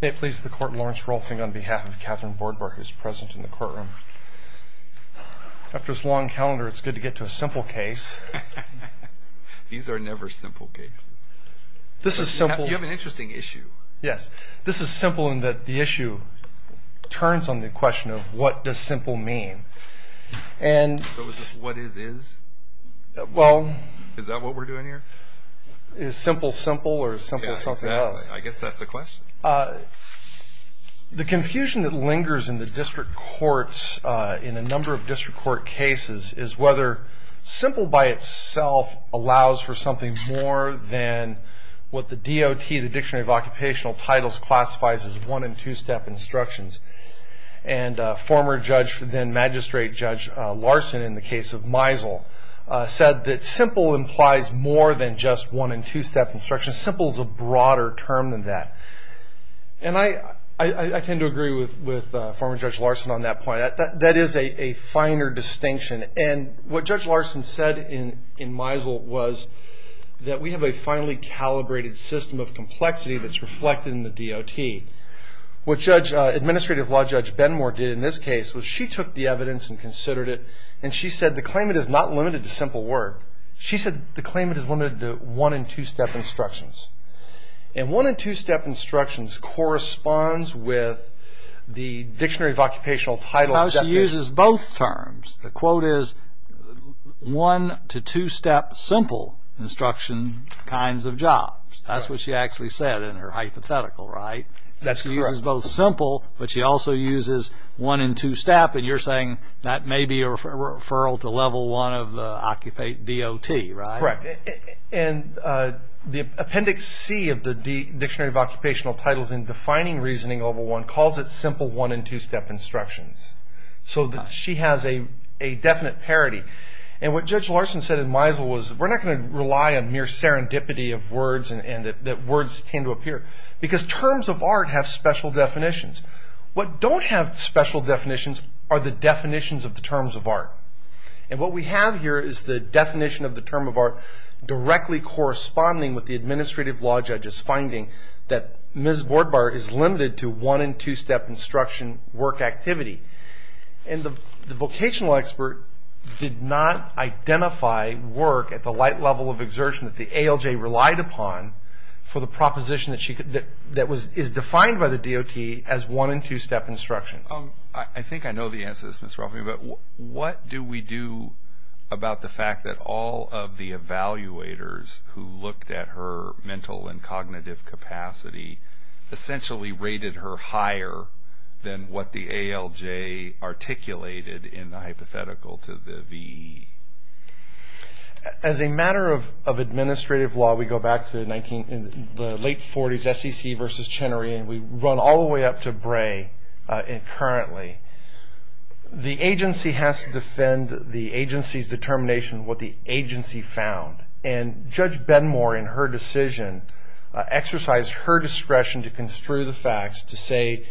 May it please the court, Lawrence Rolfing on behalf of Katherine Bordbar who is present in the courtroom. After this long calendar, it's good to get to a simple case. These are never simple cases. This is simple. You have an interesting issue. Yes, this is simple in that the issue turns on the question of what does simple mean. What is is? Is that what we're doing here? Is simple simple or is simple something else? I guess that's the question. The confusion that lingers in the district courts, in a number of district court cases, is whether simple by itself allows for something more than what the DOT, the Dictionary of Occupational Titles, classifies as one and two step instructions. And former judge, then magistrate, Judge Larson, in the case of Meisel, said that simple implies more than just one and two step instructions. Simple is a broader term than that. And I tend to agree with former Judge Larson on that point. That is a finer distinction. And what Judge Larson said in Meisel was that we have a finely calibrated system of complexity that's reflected in the DOT. What Administrative Law Judge Benmore did in this case was she took the evidence and considered it, and she said the claimant is not limited to simple work. She said the claimant is limited to one and two step instructions. And one and two step instructions corresponds with the Dictionary of Occupational Titles. No, she uses both terms. The quote is one to two step simple instruction kinds of jobs. That's what she actually said in her hypothetical, right? That's correct. She uses both simple, but she also uses one and two step. And you're saying that may be a referral to level one of the DOT, right? Correct. And the Appendix C of the Dictionary of Occupational Titles in defining reasoning over one calls it simple one and two step instructions. So she has a definite parity. And what Judge Larson said in Meisel was we're not going to rely on mere serendipity of words and that words tend to appear. Because terms of art have special definitions. What don't have special definitions are the definitions of the terms of art. And what we have here is the definition of the term of art directly corresponding with the administrative law judge's finding that Ms. Boardbar is limited to one and two step instruction work activity. And the vocational expert did not identify work at the light level of exertion that the ALJ relied upon for the proposition that is defined by the DOT as one and two step instruction. I think I know the answer to this, Mr. Ruffin. But what do we do about the fact that all of the evaluators who looked at her mental and cognitive capacity essentially rated her higher than what the ALJ articulated in the hypothetical to the VE? As a matter of administrative law, we go back to the late 40s, SEC versus Chenery, and we run all the way up to Bray currently. The agency has to defend the agency's determination of what the agency found. And Judge Benmore in her decision exercised her discretion to construe the facts to say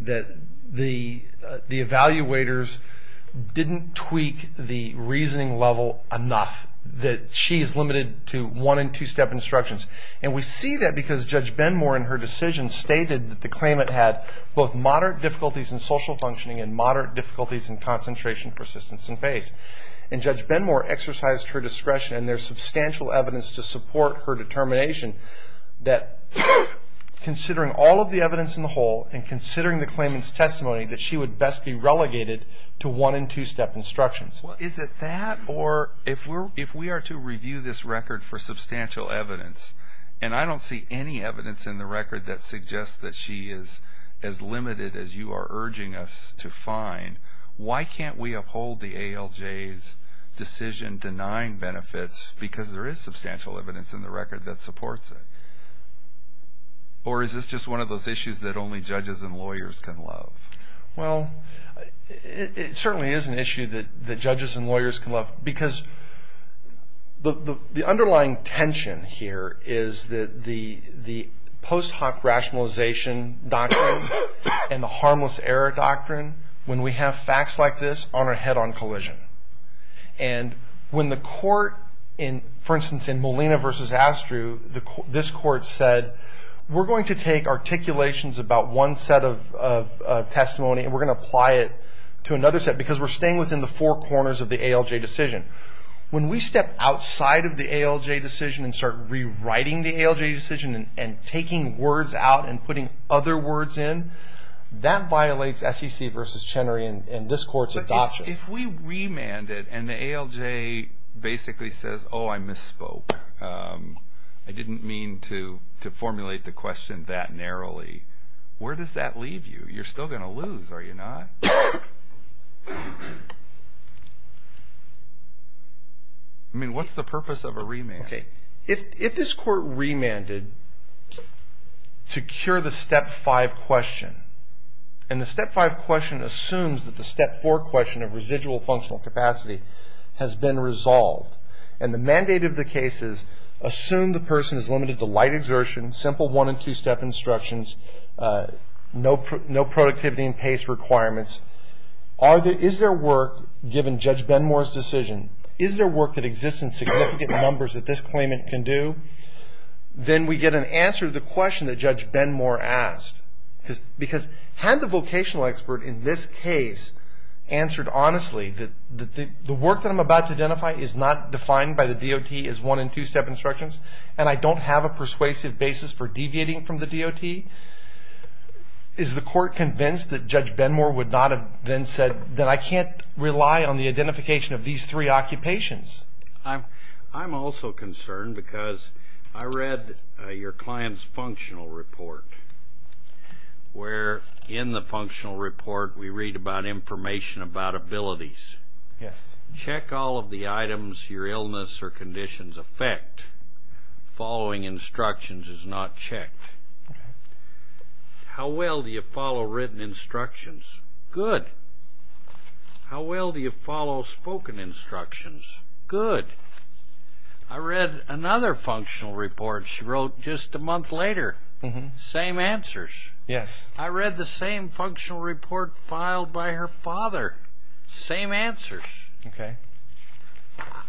that the evaluators didn't tweak the reasoning level enough that she is limited to one and two step instructions. And we see that because Judge Benmore in her decision stated that the claimant had both moderate difficulties in social functioning and moderate difficulties in concentration, persistence, and pace. And Judge Benmore exercised her discretion and there's substantial evidence to support her determination that considering all of the evidence in the whole and considering the claimant's testimony that she would best be relegated to one and two step instructions. Is it that or if we are to review this record for substantial evidence, and I don't see any evidence in the record that suggests that she is as limited as you are urging us to find, why can't we uphold the ALJ's decision denying benefits because there is substantial evidence in the record that supports it? Or is this just one of those issues that only judges and lawyers can love? Well, it certainly is an issue that judges and lawyers can love because the underlying tension here is that the post hoc rationalization doctrine and the harmless error doctrine, when we have facts like this on our head on collision. And when the court, for instance, in Molina versus Astru, this court said, we're going to take articulations about one set of testimony and we're going to apply it to another set because we're staying within the four corners of the ALJ decision. When we step outside of the ALJ decision and start rewriting the ALJ decision and taking words out and putting other words in, that violates SEC versus Chenery and this court's adoption. If we remanded and the ALJ basically says, oh, I misspoke, I didn't mean to formulate the question that narrowly, where does that leave you? You're still going to lose, are you not? I mean, what's the purpose of a remand? If this court remanded to cure the step five question, and the step five question assumes that the step four question of residual functional capacity has been resolved, and the mandate of the case is assume the person is limited to light exertion, simple one and two step instructions, no productivity and pace requirements, is there work, given Judge Benmore's decision, is there work that exists in significant numbers that this claimant can do? Then we get an answer to the question that Judge Benmore asked. Because had the vocational expert in this case answered honestly that the work that I'm about to identify is not defined by the DOT as one and two step instructions, and I don't have a persuasive basis for deviating from the DOT, is the court convinced that Judge Benmore would not have then said that I can't rely on the identification of these three occupations? I'm also concerned because I read your client's functional report, where in the functional report we read about information about abilities. Yes. Check all of the items your illness or conditions affect. Following instructions is not checked. How well do you follow written instructions? Good. How well do you follow spoken instructions? Good. I read another functional report she wrote just a month later. Same answers. Yes. I read the same functional report filed by her father. Same answers. Okay.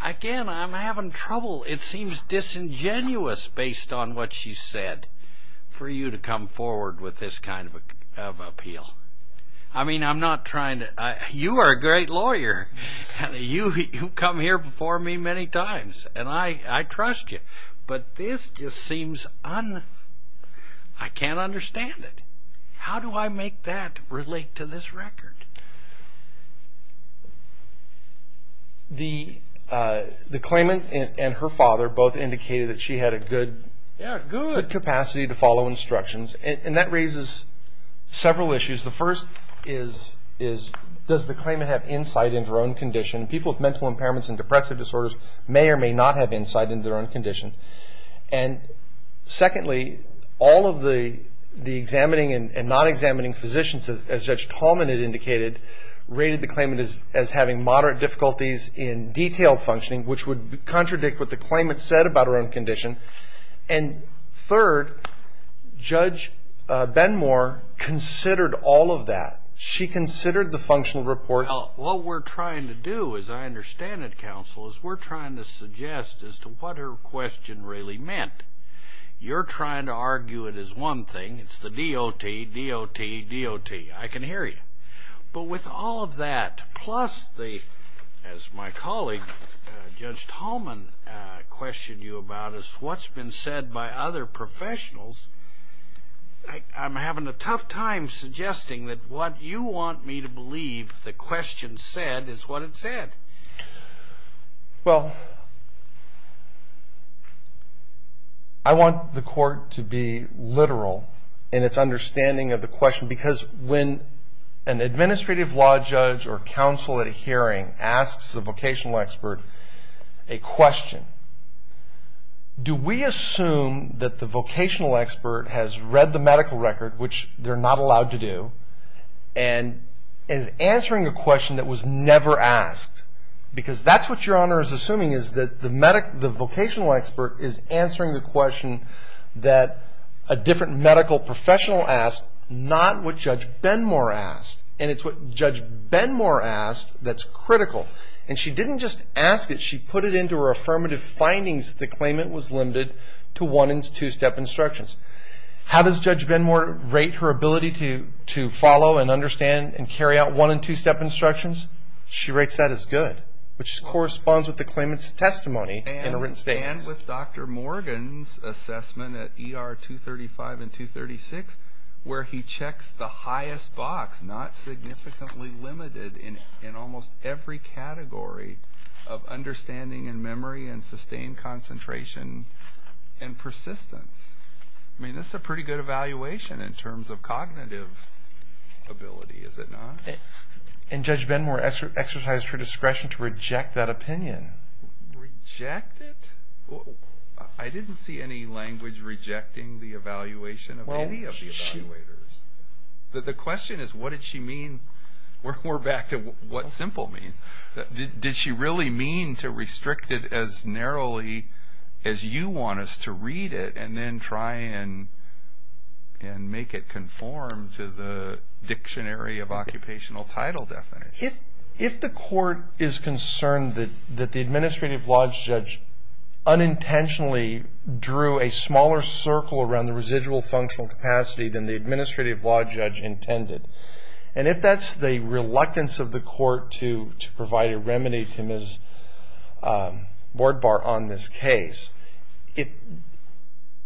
Again, I'm having trouble. It seems disingenuous based on what she said for you to come forward with this kind of appeal. I mean, I'm not trying to – you are a great lawyer. You come here before me many times, and I trust you. But this just seems – I can't understand it. How do I make that relate to this record? The claimant and her father both indicated that she had a good capacity to follow instructions, and that raises several issues. The first is, does the claimant have insight into her own condition? People with mental impairments and depressive disorders may or may not have insight into their own condition. And secondly, all of the examining and non-examining physicians, as Judge Tallman had indicated, rated the claimant as having moderate difficulties in detailed functioning, which would contradict what the claimant said about her own condition. And third, Judge Benmore considered all of that. She considered the functional reports. What we're trying to do, as I understand it, counsel, is we're trying to suggest as to what her question really meant. You're trying to argue it as one thing. It's the DOT, DOT, DOT. I can hear you. But with all of that, plus the, as my colleague, Judge Tallman, questioned you about is what's been said by other professionals, I'm having a tough time suggesting that what you want me to believe the question said is what it said. Well, I want the Court to be literal in its understanding of the question, because when an administrative law judge or counsel at a hearing asks a vocational expert a question, do we assume that the vocational expert has read the medical record, which they're not allowed to do, and is answering a question that was never asked? Because that's what Your Honor is assuming, is that the vocational expert is answering the question that a different medical professional asked, not what Judge Benmore asked. And it's what Judge Benmore asked that's critical. And she didn't just ask it, she put it into her affirmative findings that the claimant was limited to one and two-step instructions. How does Judge Benmore rate her ability to follow and understand and carry out one and two-step instructions? She rates that as good, which corresponds with the claimant's testimony in a written statement. And with Dr. Morgan's assessment at ER 235 and 236, where he checks the highest box, not significantly limited, in almost every category of understanding and memory and sustained concentration and persistence. I mean, this is a pretty good evaluation in terms of cognitive ability, is it not? And Judge Benmore exercised her discretion to reject that opinion. Reject it? I didn't see any language rejecting the evaluation of any of the evaluators. The question is, what did she mean? We're back to what simple means. Did she really mean to restrict it as narrowly as you want us to read it and then try and make it conform to the Dictionary of Occupational Title definition? If the court is concerned that the administrative law judge unintentionally drew a smaller circle around the residual functional capacity than the administrative law judge intended, and if that's the reluctance of the court to provide a remedy to Ms. Boardbar on this case,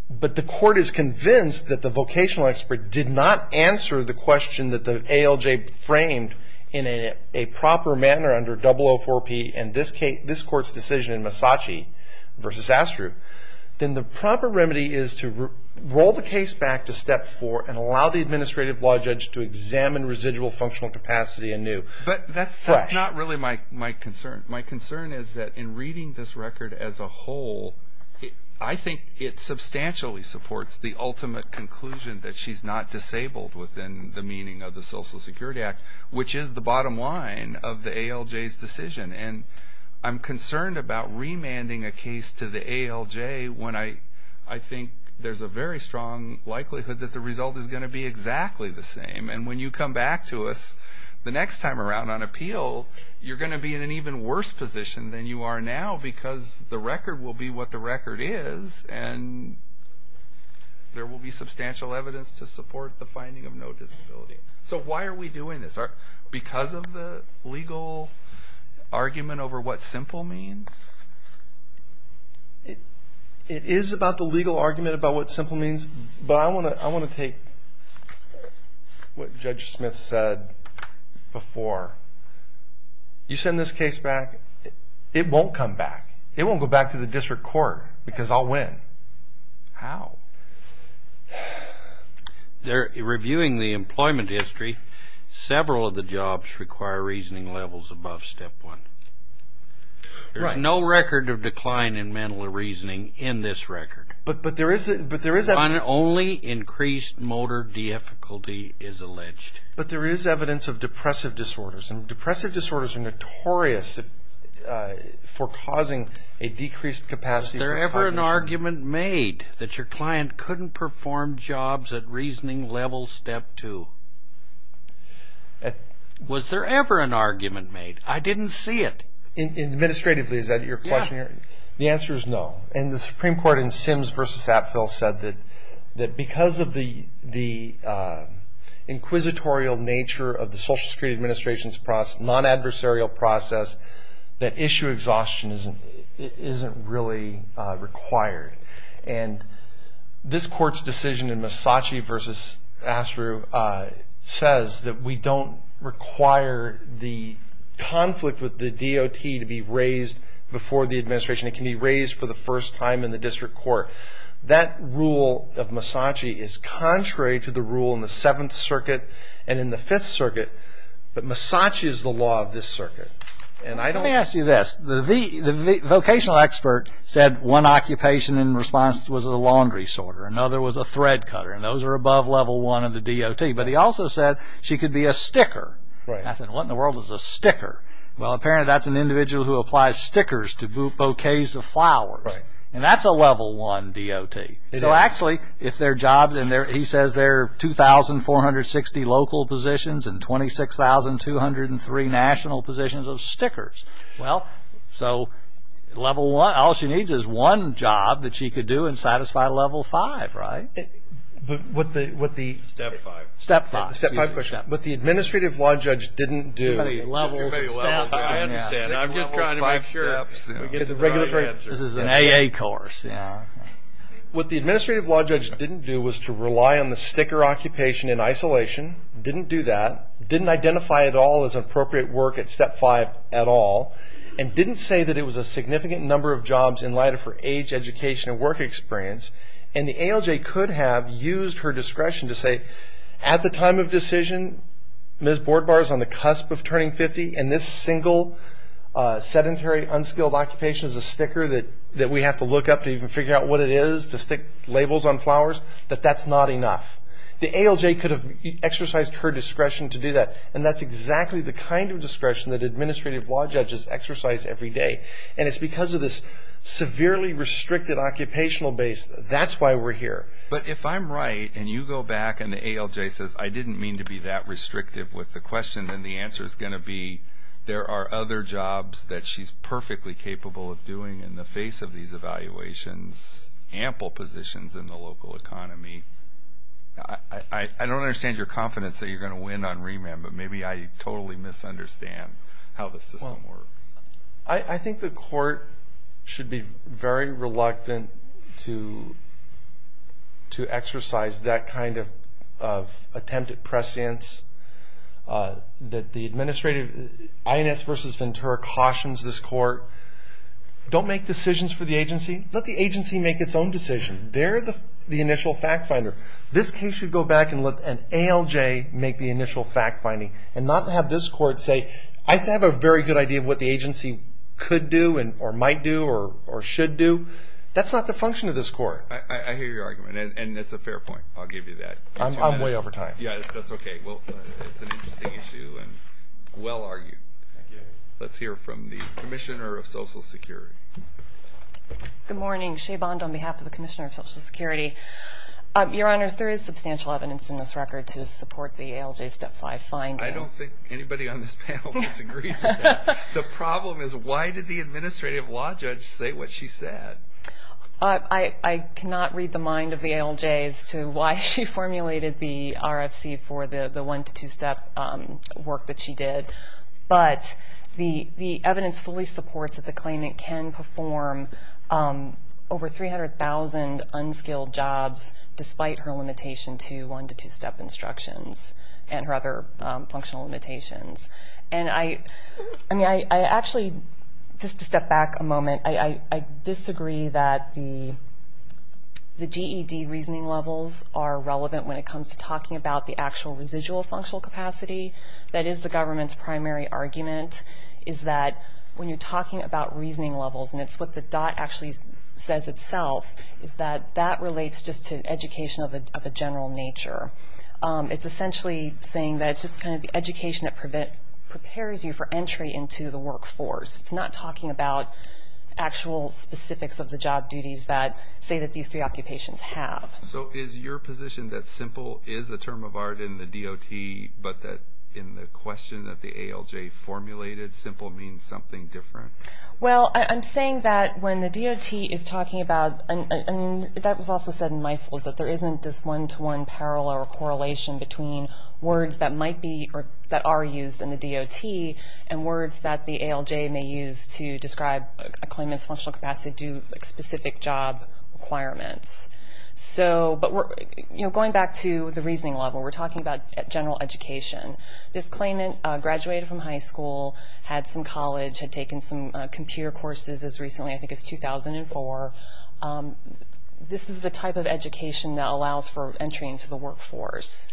but the court is convinced that the vocational expert did not answer the question and that the ALJ framed in a proper manner under 004P in this court's decision in Massachi v. Astrup, then the proper remedy is to roll the case back to Step 4 and allow the administrative law judge to examine residual functional capacity anew. But that's not really my concern. My concern is that in reading this record as a whole, I think it substantially supports the ultimate conclusion that she's not disabled within the meaning of the Social Security Act, which is the bottom line of the ALJ's decision. And I'm concerned about remanding a case to the ALJ when I think there's a very strong likelihood that the result is going to be exactly the same. And when you come back to us the next time around on appeal, you're going to be in an even worse position than you are now because the record will be what the record is and there will be substantial evidence to support the finding of no disability. So why are we doing this? Because of the legal argument over what simple means? It is about the legal argument about what simple means, but I want to take what Judge Smith said before. You send this case back, it won't come back. It won't go back to the district court because I'll win. How? Reviewing the employment history, several of the jobs require reasoning levels above Step 1. There's no record of decline in mental reasoning in this record. But there is evidence. Only increased motor difficulty is alleged. But there is evidence of depressive disorders, and depressive disorders are notorious for causing a decreased capacity for cognition. Was there ever an argument made that your client couldn't perform jobs at reasoning level Step 2? Was there ever an argument made? I didn't see it. Administratively, is that your question? The answer is no. And the Supreme Court in Sims v. Apfel said that because of the inquisitorial nature of the Social Security Administration's process, non-adversarial process, that issue exhaustion isn't really required. And this Court's decision in Massachi v. Asrew says that we don't require the conflict with the DOT to be raised before the administration. It can be raised for the first time in the district court. That rule of Massachi is contrary to the rule in the Seventh Circuit and in the Fifth Circuit. But Massachi is the law of this circuit. Let me ask you this. The vocational expert said one occupation in response was a laundry sorter. Another was a thread cutter. And those are above Level 1 of the DOT. But he also said she could be a sticker. I said, what in the world is a sticker? Well, apparently that's an individual who applies stickers to bouquets of flowers. And that's a Level 1 DOT. So actually, if there are jobs, and he says there are 2,460 local positions and 26,203 national positions of stickers. Well, so Level 1, all she needs is one job that she could do and satisfy Level 5, right? But what the... Step 5. Step 5, of course. But the administrative law judge didn't do... I understand. I'm just trying to make sure. This is an AA course. What the administrative law judge didn't do was to rely on the sticker occupation in isolation. Didn't do that. Didn't identify at all as appropriate work at Step 5 at all. And didn't say that it was a significant number of jobs in light of her age, education, and work experience. And the ALJ could have used her discretion to say, at the time of decision, Ms. Boardbar is on the cusp of turning 50, and this single sedentary, unskilled occupation is a sticker that we have to look up to even figure out what it is, to stick labels on flowers, that that's not enough. The ALJ could have exercised her discretion to do that. And that's exactly the kind of discretion that administrative law judges exercise every day. And it's because of this severely restricted occupational base. That's why we're here. But if I'm right and you go back and the ALJ says, I didn't mean to be that restrictive with the question, then the answer is going to be, there are other jobs that she's perfectly capable of doing in the face of these evaluations, ample positions in the local economy. I don't understand your confidence that you're going to win on remand, but maybe I totally misunderstand how the system works. I think the court should be very reluctant to exercise that kind of attempt at prescience. The administrative, INS versus Ventura, cautions this court, don't make decisions for the agency. Let the agency make its own decision. They're the initial fact finder. This case should go back and let an ALJ make the initial fact finding and not have this court say, I have a very good idea of what the agency could do or might do or should do. That's not the function of this court. I hear your argument, and it's a fair point. I'll give you that. I'm way over time. Yeah, that's okay. Well, it's an interesting issue and well argued. Let's hear from the Commissioner of Social Security. Good morning. Shea Bond on behalf of the Commissioner of Social Security. Your Honors, there is substantial evidence in this record to support the ALJ Step 5 finding. I don't think anybody on this panel disagrees with that. The problem is, why did the administrative law judge say what she said? I cannot read the mind of the ALJ as to why she formulated the RFC for the one- to two-step work that she did. But the evidence fully supports that the claimant can perform over 300,000 unskilled jobs despite her limitation to one- to two-step instructions and her other functional limitations. And I actually, just to step back a moment, I disagree that the GED reasoning levels are relevant when it comes to talking about the actual residual functional capacity that is the government's primary argument is that when you're talking about reasoning levels, and it's what the dot actually says itself, is that that relates just to education of a general nature. It's essentially saying that it's just kind of the education that prepares you for entry into the workforce. It's not talking about actual specifics of the job duties that say that these preoccupations have. So is your position that simple is a term of art in the DOT, but that in the question that the ALJ formulated, simple means something different? Well, I'm saying that when the DOT is talking about, I mean, that was also said in MISLs, that there isn't this one-to-one parallel or correlation between words that might be or that are used in the DOT and words that the ALJ may use to describe a claimant's functional capacity due to specific job requirements. But going back to the reasoning level, we're talking about general education. This claimant graduated from high school, had some college, had taken some computer courses as recently, I think it's 2004. This is the type of education that allows for entry into the workforce.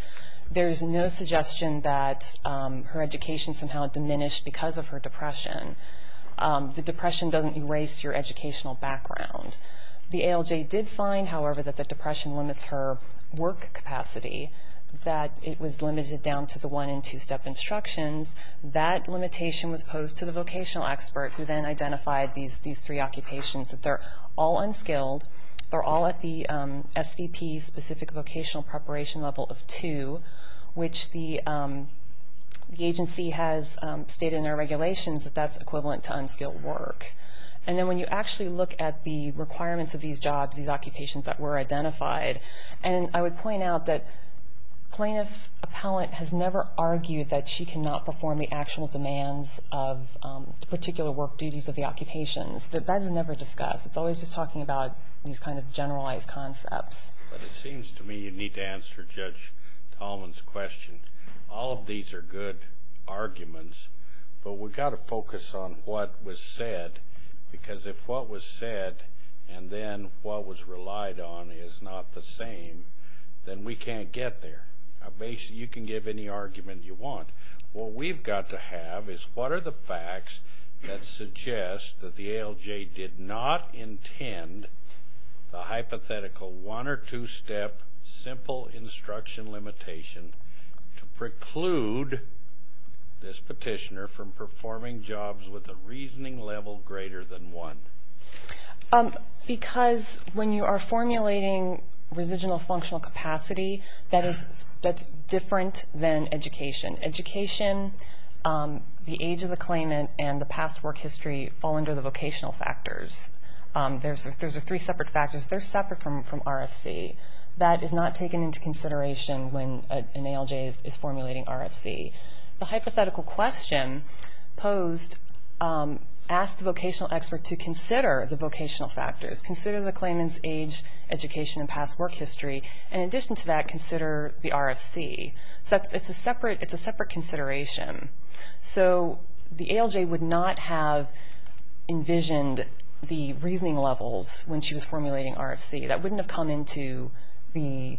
There's no suggestion that her education somehow diminished because of her depression. The depression doesn't erase your educational background. The ALJ did find, however, that the depression limits her work capacity, that it was limited down to the one- and two-step instructions. That limitation was posed to the vocational expert who then identified these three occupations, that they're all unskilled, they're all at the SVP-specific vocational preparation level of two, which the agency has stated in their regulations that that's equivalent to unskilled work. And then when you actually look at the requirements of these jobs, these occupations that were identified, and I would point out that plaintiff appellant has never argued that she cannot perform the actual demands of particular work duties of the occupations. That is never discussed. It's always just talking about these kind of generalized concepts. But it seems to me you need to answer Judge Tallman's question. All of these are good arguments, but we've got to focus on what was said, because if what was said and then what was relied on is not the same, then we can't get there. You can give any argument you want. What we've got to have is what are the facts that suggest that the ALJ did not intend the hypothetical one- or two-step simple instruction limitation to preclude this petitioner from performing jobs with a reasoning level greater than one? Because when you are formulating residual functional capacity, that's different than education. Education, the age of the claimant, and the past work history fall under the vocational factors. Those are three separate factors. They're separate from RFC. That is not taken into consideration when an ALJ is formulating RFC. The hypothetical question posed asked the vocational expert to consider the vocational factors, consider the claimant's age, education, and past work history. In addition to that, consider the RFC. It's a separate consideration. So the ALJ would not have envisioned the reasoning levels when she was formulating RFC. That wouldn't have come into the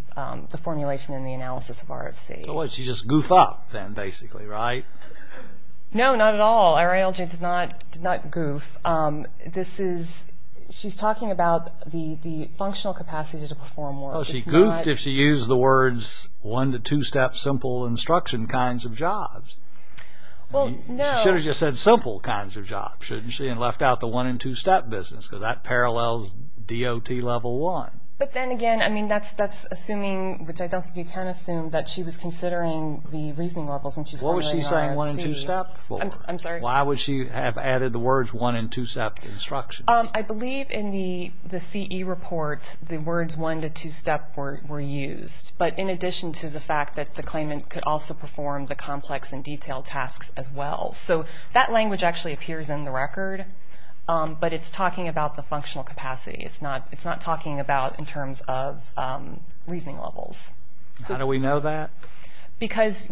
formulation and the analysis of RFC. She just goofed up then, basically, right? No, not at all. Our ALJ did not goof. She's talking about the functional capacity to perform work. Well, she goofed if she used the words one- to two-step simple instruction kinds of jobs. Well, no. She should have just said simple kinds of jobs, shouldn't she, and left out the one- and two-step business because that parallels DOT Level 1. But then again, I mean, that's assuming, which I don't think you can assume, that she was considering the reasoning levels when she was formulating RFC. What was she saying one- and two-step for? I'm sorry? Why would she have added the words one- and two-step instructions? I believe in the CE report the words one- to two-step were used, but in addition to the fact that the claimant could also perform the complex and detailed tasks as well. So that language actually appears in the record, but it's talking about the functional capacity. It's not talking about in terms of reasoning levels. How do we know that? Because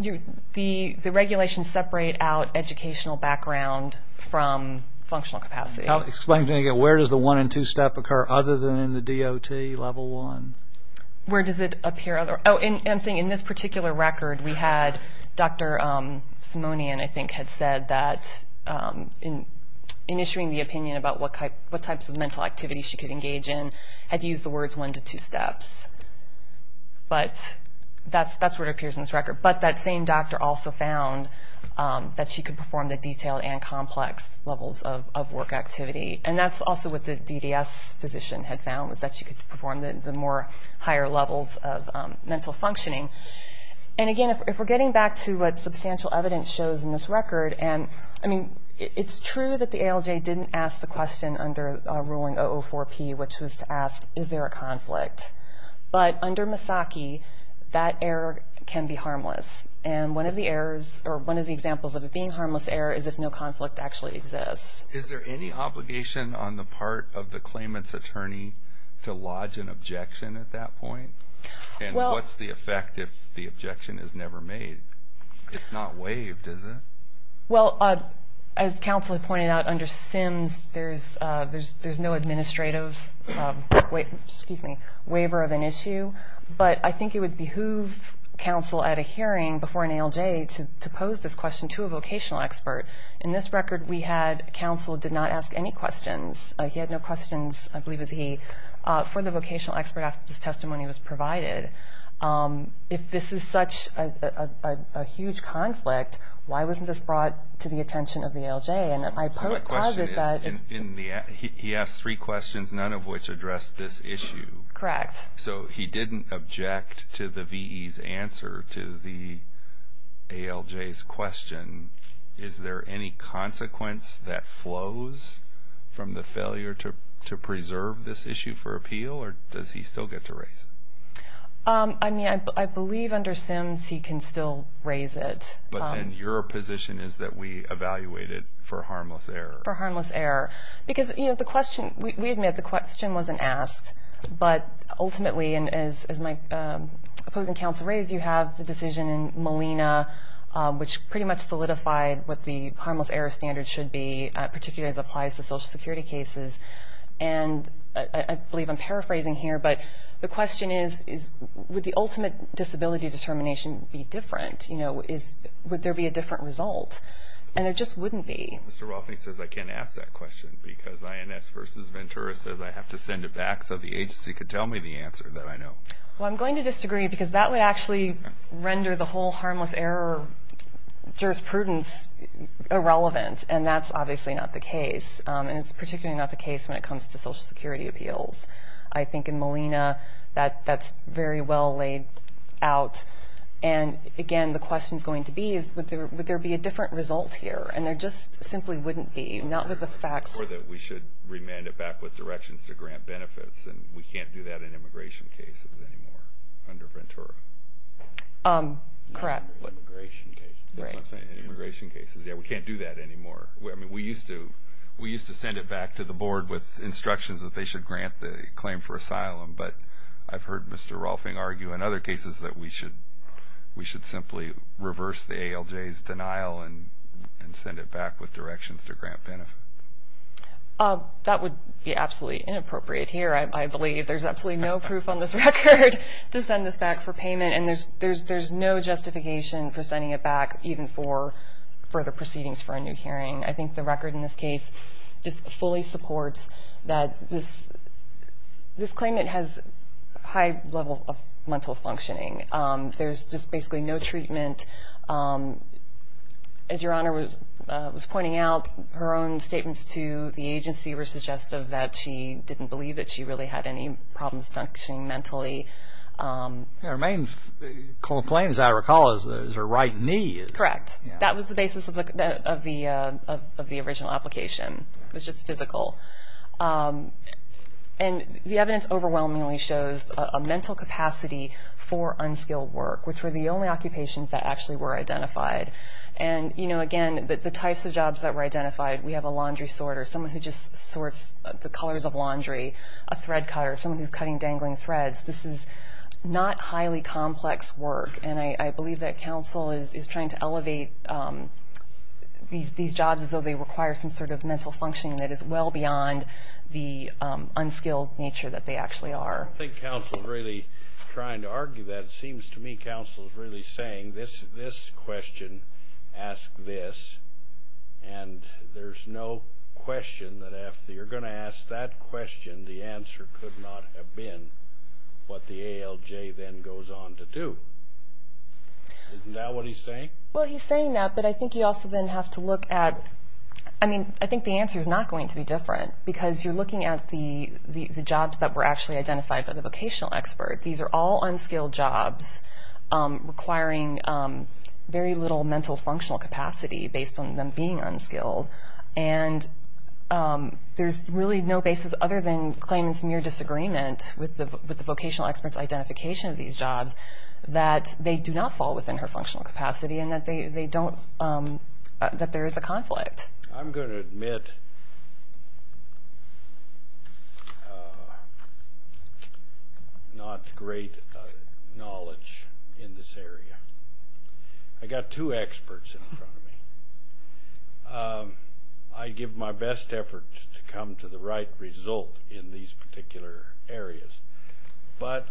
the regulations separate out educational background from functional capacity. Explain again. Where does the one- and two-step occur other than in the DOT Level 1? Where does it appear? Oh, and I'm saying in this particular record we had Dr. Simonian, I think, had said that in issuing the opinion about what types of mental activities she could engage in, had used the words one- to two-steps. But that's where it appears in this record. But that same doctor also found that she could perform the detailed and complex levels of work activity. And that's also what the DDS physician had found, was that she could perform the more higher levels of mental functioning. And, again, if we're getting back to what substantial evidence shows in this record, and, I mean, it's true that the ALJ didn't ask the question under ruling 004-P, which was to ask, is there a conflict? But under Misaki, that error can be harmless. And one of the examples of it being a harmless error is if no conflict actually exists. Is there any obligation on the part of the claimant's attorney to lodge an objection at that point? And what's the effect if the objection is never made? It's not waived, is it? Well, as counsel had pointed out, under SIMS, there's no administrative waiver of an issue. But I think it would behoove counsel at a hearing before an ALJ to pose this question to a vocational expert. In this record, we had counsel did not ask any questions. He had no questions, I believe it was he, for the vocational expert after this testimony was provided. If this is such a huge conflict, why wasn't this brought to the attention of the ALJ? And I pose it that it's in the act. He asked three questions, none of which addressed this issue. Correct. So he didn't object to the VE's answer to the ALJ's question. Is there any consequence that flows from the failure to preserve this issue for appeal, or does he still get to raise it? I mean, I believe under SIMS he can still raise it. But then your position is that we evaluate it for harmless error. For harmless error. Because, you know, the question, we admit the question wasn't asked. But ultimately, and as my opposing counsel raised, you have the decision in Molina, which pretty much solidified what the harmless error standard should be, particularly as it applies to Social Security cases. And I believe I'm paraphrasing here, but the question is, would the ultimate disability determination be different? You know, would there be a different result? And there just wouldn't be. Mr. Rothney says I can't ask that question because INS versus Ventura says I have to send it back so the agency could tell me the answer that I know. Well, I'm going to disagree because that would actually render the whole harmless error jurisprudence irrelevant. And that's obviously not the case. And it's particularly not the case when it comes to Social Security appeals. I think in Molina that's very well laid out. And, again, the question is going to be, would there be a different result here? And there just simply wouldn't be. Not with the facts. Or that we should remand it back with directions to grant benefits. And we can't do that in immigration cases anymore under Ventura. Correct. Immigration cases. That's what I'm saying. Immigration cases. Yeah, we can't do that anymore. I mean, we used to send it back to the board with instructions that they should grant the claim for asylum. But I've heard Mr. Rolfing argue in other cases that we should simply reverse the ALJ's denial and send it back with directions to grant benefits. That would be absolutely inappropriate here, I believe. There's absolutely no proof on this record to send this back for payment. And there's no justification for sending it back even for further proceedings for a new hearing. I think the record in this case just fully supports that this claimant has a high level of mental functioning. There's just basically no treatment. As Your Honor was pointing out, her own statements to the agency were suggestive that she didn't believe that she really had any problems functioning mentally. Her main complaint, as I recall, is her right knee. Correct. That was the basis of the original application. It was just physical. And the evidence overwhelmingly shows a mental capacity for unskilled work, which were the only occupations that actually were identified. And, you know, again, the types of jobs that were identified, we have a laundry sorter, someone who just sorts the colors of laundry, a thread cutter, someone who's cutting dangling threads. This is not highly complex work. And I believe that counsel is trying to elevate these jobs as though they require some sort of mental functioning that is well beyond the unskilled nature that they actually are. I think counsel is really trying to argue that. It seems to me counsel is really saying this question, ask this. And there's no question that after you're going to ask that question, the answer could not have been what the ALJ then goes on to do. Isn't that what he's saying? Well, he's saying that, but I think you also then have to look at, I mean, I think the answer is not going to be different because you're looking at the jobs that were actually identified by the vocational expert. These are all unskilled jobs requiring very little mental functional capacity based on them being unskilled. And there's really no basis other than claimant's mere disagreement with the vocational expert's identification of these jobs that they do not fall within her functional capacity and that they don't, that there is a conflict. I'm going to admit not great knowledge in this area. I've got two experts in front of me. I give my best effort to come to the right result in these particular areas. But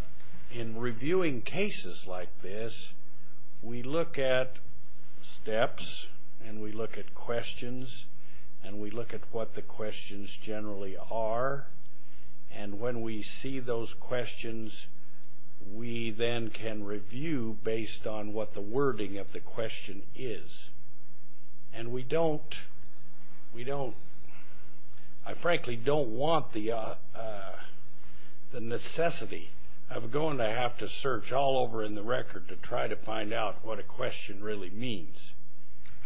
in reviewing cases like this, we look at steps and we look at questions and we look at what the questions generally are. And when we see those questions, we then can review based on what the wording of the question is. And we don't, we don't, I frankly don't want the necessity of going to have to search all over in the record to try to find out what a question really means.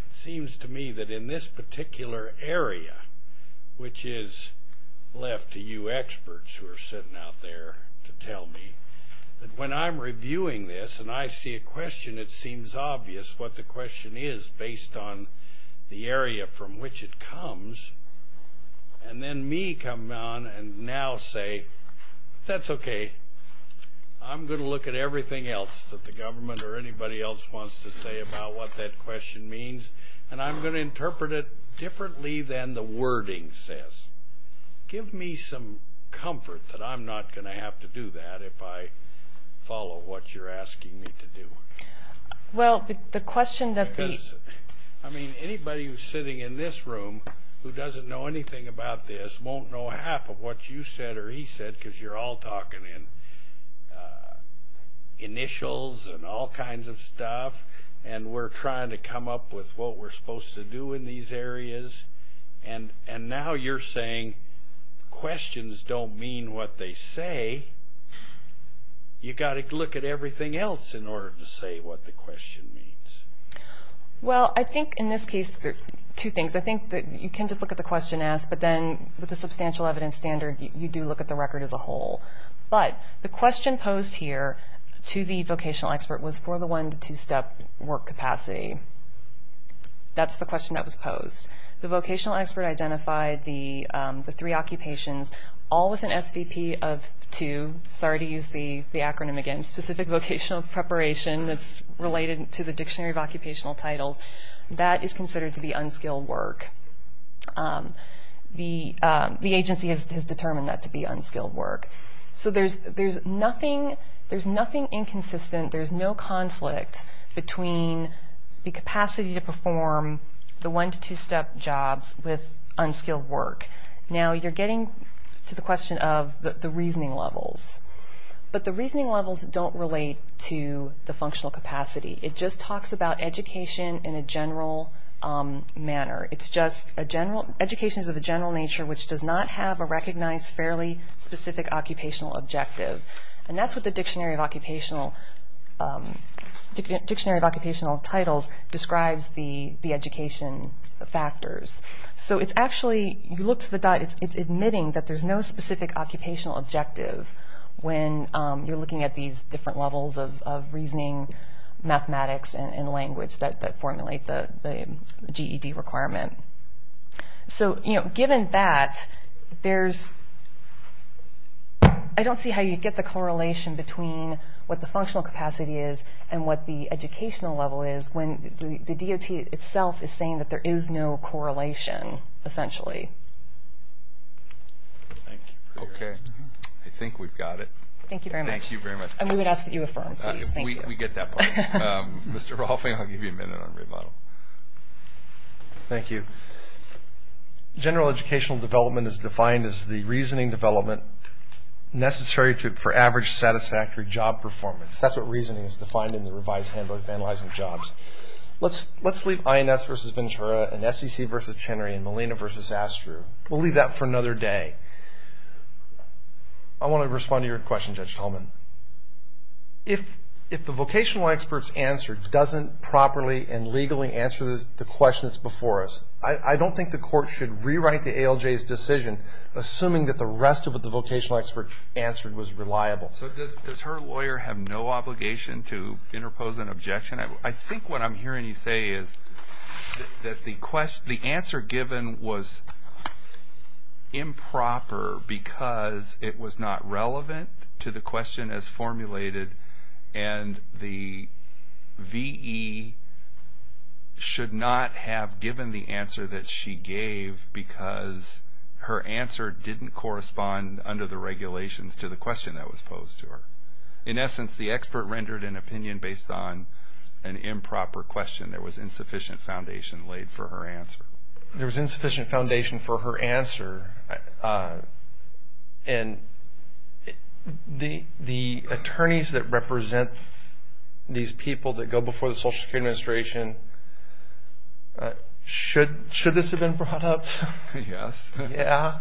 It seems to me that in this particular area, which is left to you experts who are sitting out there to tell me, that when I'm reviewing this and I see a question, it seems obvious what the question is based on the area from which it comes. And then me come on and now say, that's okay. I'm going to look at everything else that the government or anybody else wants to say about what that question means. And I'm going to interpret it differently than the wording says. Give me some comfort that I'm not going to have to do that if I follow what you're asking me to do. Well, the question that the... Because, I mean, anybody who's sitting in this room who doesn't know anything about this won't know half of what you said or he said because you're all talking in initials and all kinds of stuff. And we're trying to come up with what we're supposed to do in these areas. And now you're saying questions don't mean what they say. You've got to look at everything else in order to say what the question means. Well, I think in this case there are two things. I think that you can just look at the question asked, but then with a substantial evidence standard, you do look at the record as a whole. But the question posed here to the vocational expert was for the one- to two-step work capacity. That's the question that was posed. The vocational expert identified the three occupations, all with an SVP of two. Sorry to use the acronym again. Specific vocational preparation that's related to the Dictionary of Occupational Titles. That is considered to be unskilled work. The agency has determined that to be unskilled work. So there's nothing inconsistent. There's no conflict between the capacity to perform the one- to two-step jobs with unskilled work. Now you're getting to the question of the reasoning levels. But the reasoning levels don't relate to the functional capacity. It just talks about education in a general manner. It's just education is of a general nature which does not have a recognized fairly specific occupational objective. And that's what the Dictionary of Occupational Titles describes the education factors. So it's actually admitting that there's no specific occupational objective when you're looking at these different levels of reasoning, mathematics, and language that formulate the GED requirement. So given that, I don't see how you'd get the correlation between what the functional capacity is and what the educational level is when the DOT itself is saying that there is no correlation, essentially. Okay. I think we've got it. Thank you very much. Thank you very much. And we would ask that you affirm, please. We get that part. Mr. Rolfing, I'll give you a minute on remodel. Thank you. General educational development is defined as the reasoning development necessary for average satisfactory job performance. That's what reasoning is defined in the revised Handbook of Analyzing Jobs. Let's leave INS versus Ventura and SEC versus Chenery and Molina versus Astru. We'll leave that for another day. I want to respond to your question, Judge Tolman. If the vocational expert's answer doesn't properly and legally answer the questions before us, I don't think the court should rewrite the ALJ's decision, assuming that the rest of what the vocational expert answered was reliable. So does her lawyer have no obligation to interpose an objection? I think what I'm hearing you say is that the answer given was improper because it was not relevant to the question as formulated and the V.E. should not have given the answer that she gave because her answer didn't correspond under the regulations to the question that was posed to her. In essence, the expert rendered an opinion based on an improper question. There was insufficient foundation laid for her answer. There was insufficient foundation for her answer. And the attorneys that represent these people that go before the Social Security Administration, should this have been brought up? Yes. Yeah.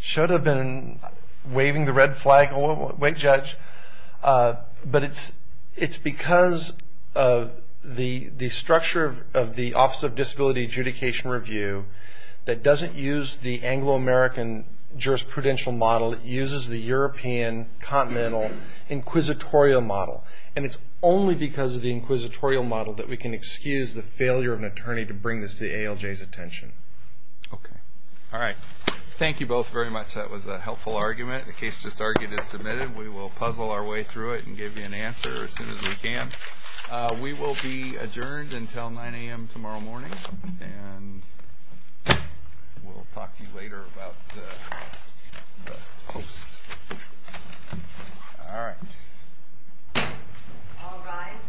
Should have been waving the red flag. Wait, Judge. But it's because of the structure of the Office of Disability Adjudication Review that doesn't use the Anglo-American jurisprudential model. It uses the European continental inquisitorial model. And it's only because of the inquisitorial model that we can excuse the failure of an attorney to bring this to the ALJ's attention. Okay. All right. Thank you both very much. That was a helpful argument. The case just argued is submitted. We will puzzle our way through it and give you an answer as soon as we can. We will be adjourned until 9 a.m. tomorrow morning. And we'll talk to you later about the post. All right. All rise.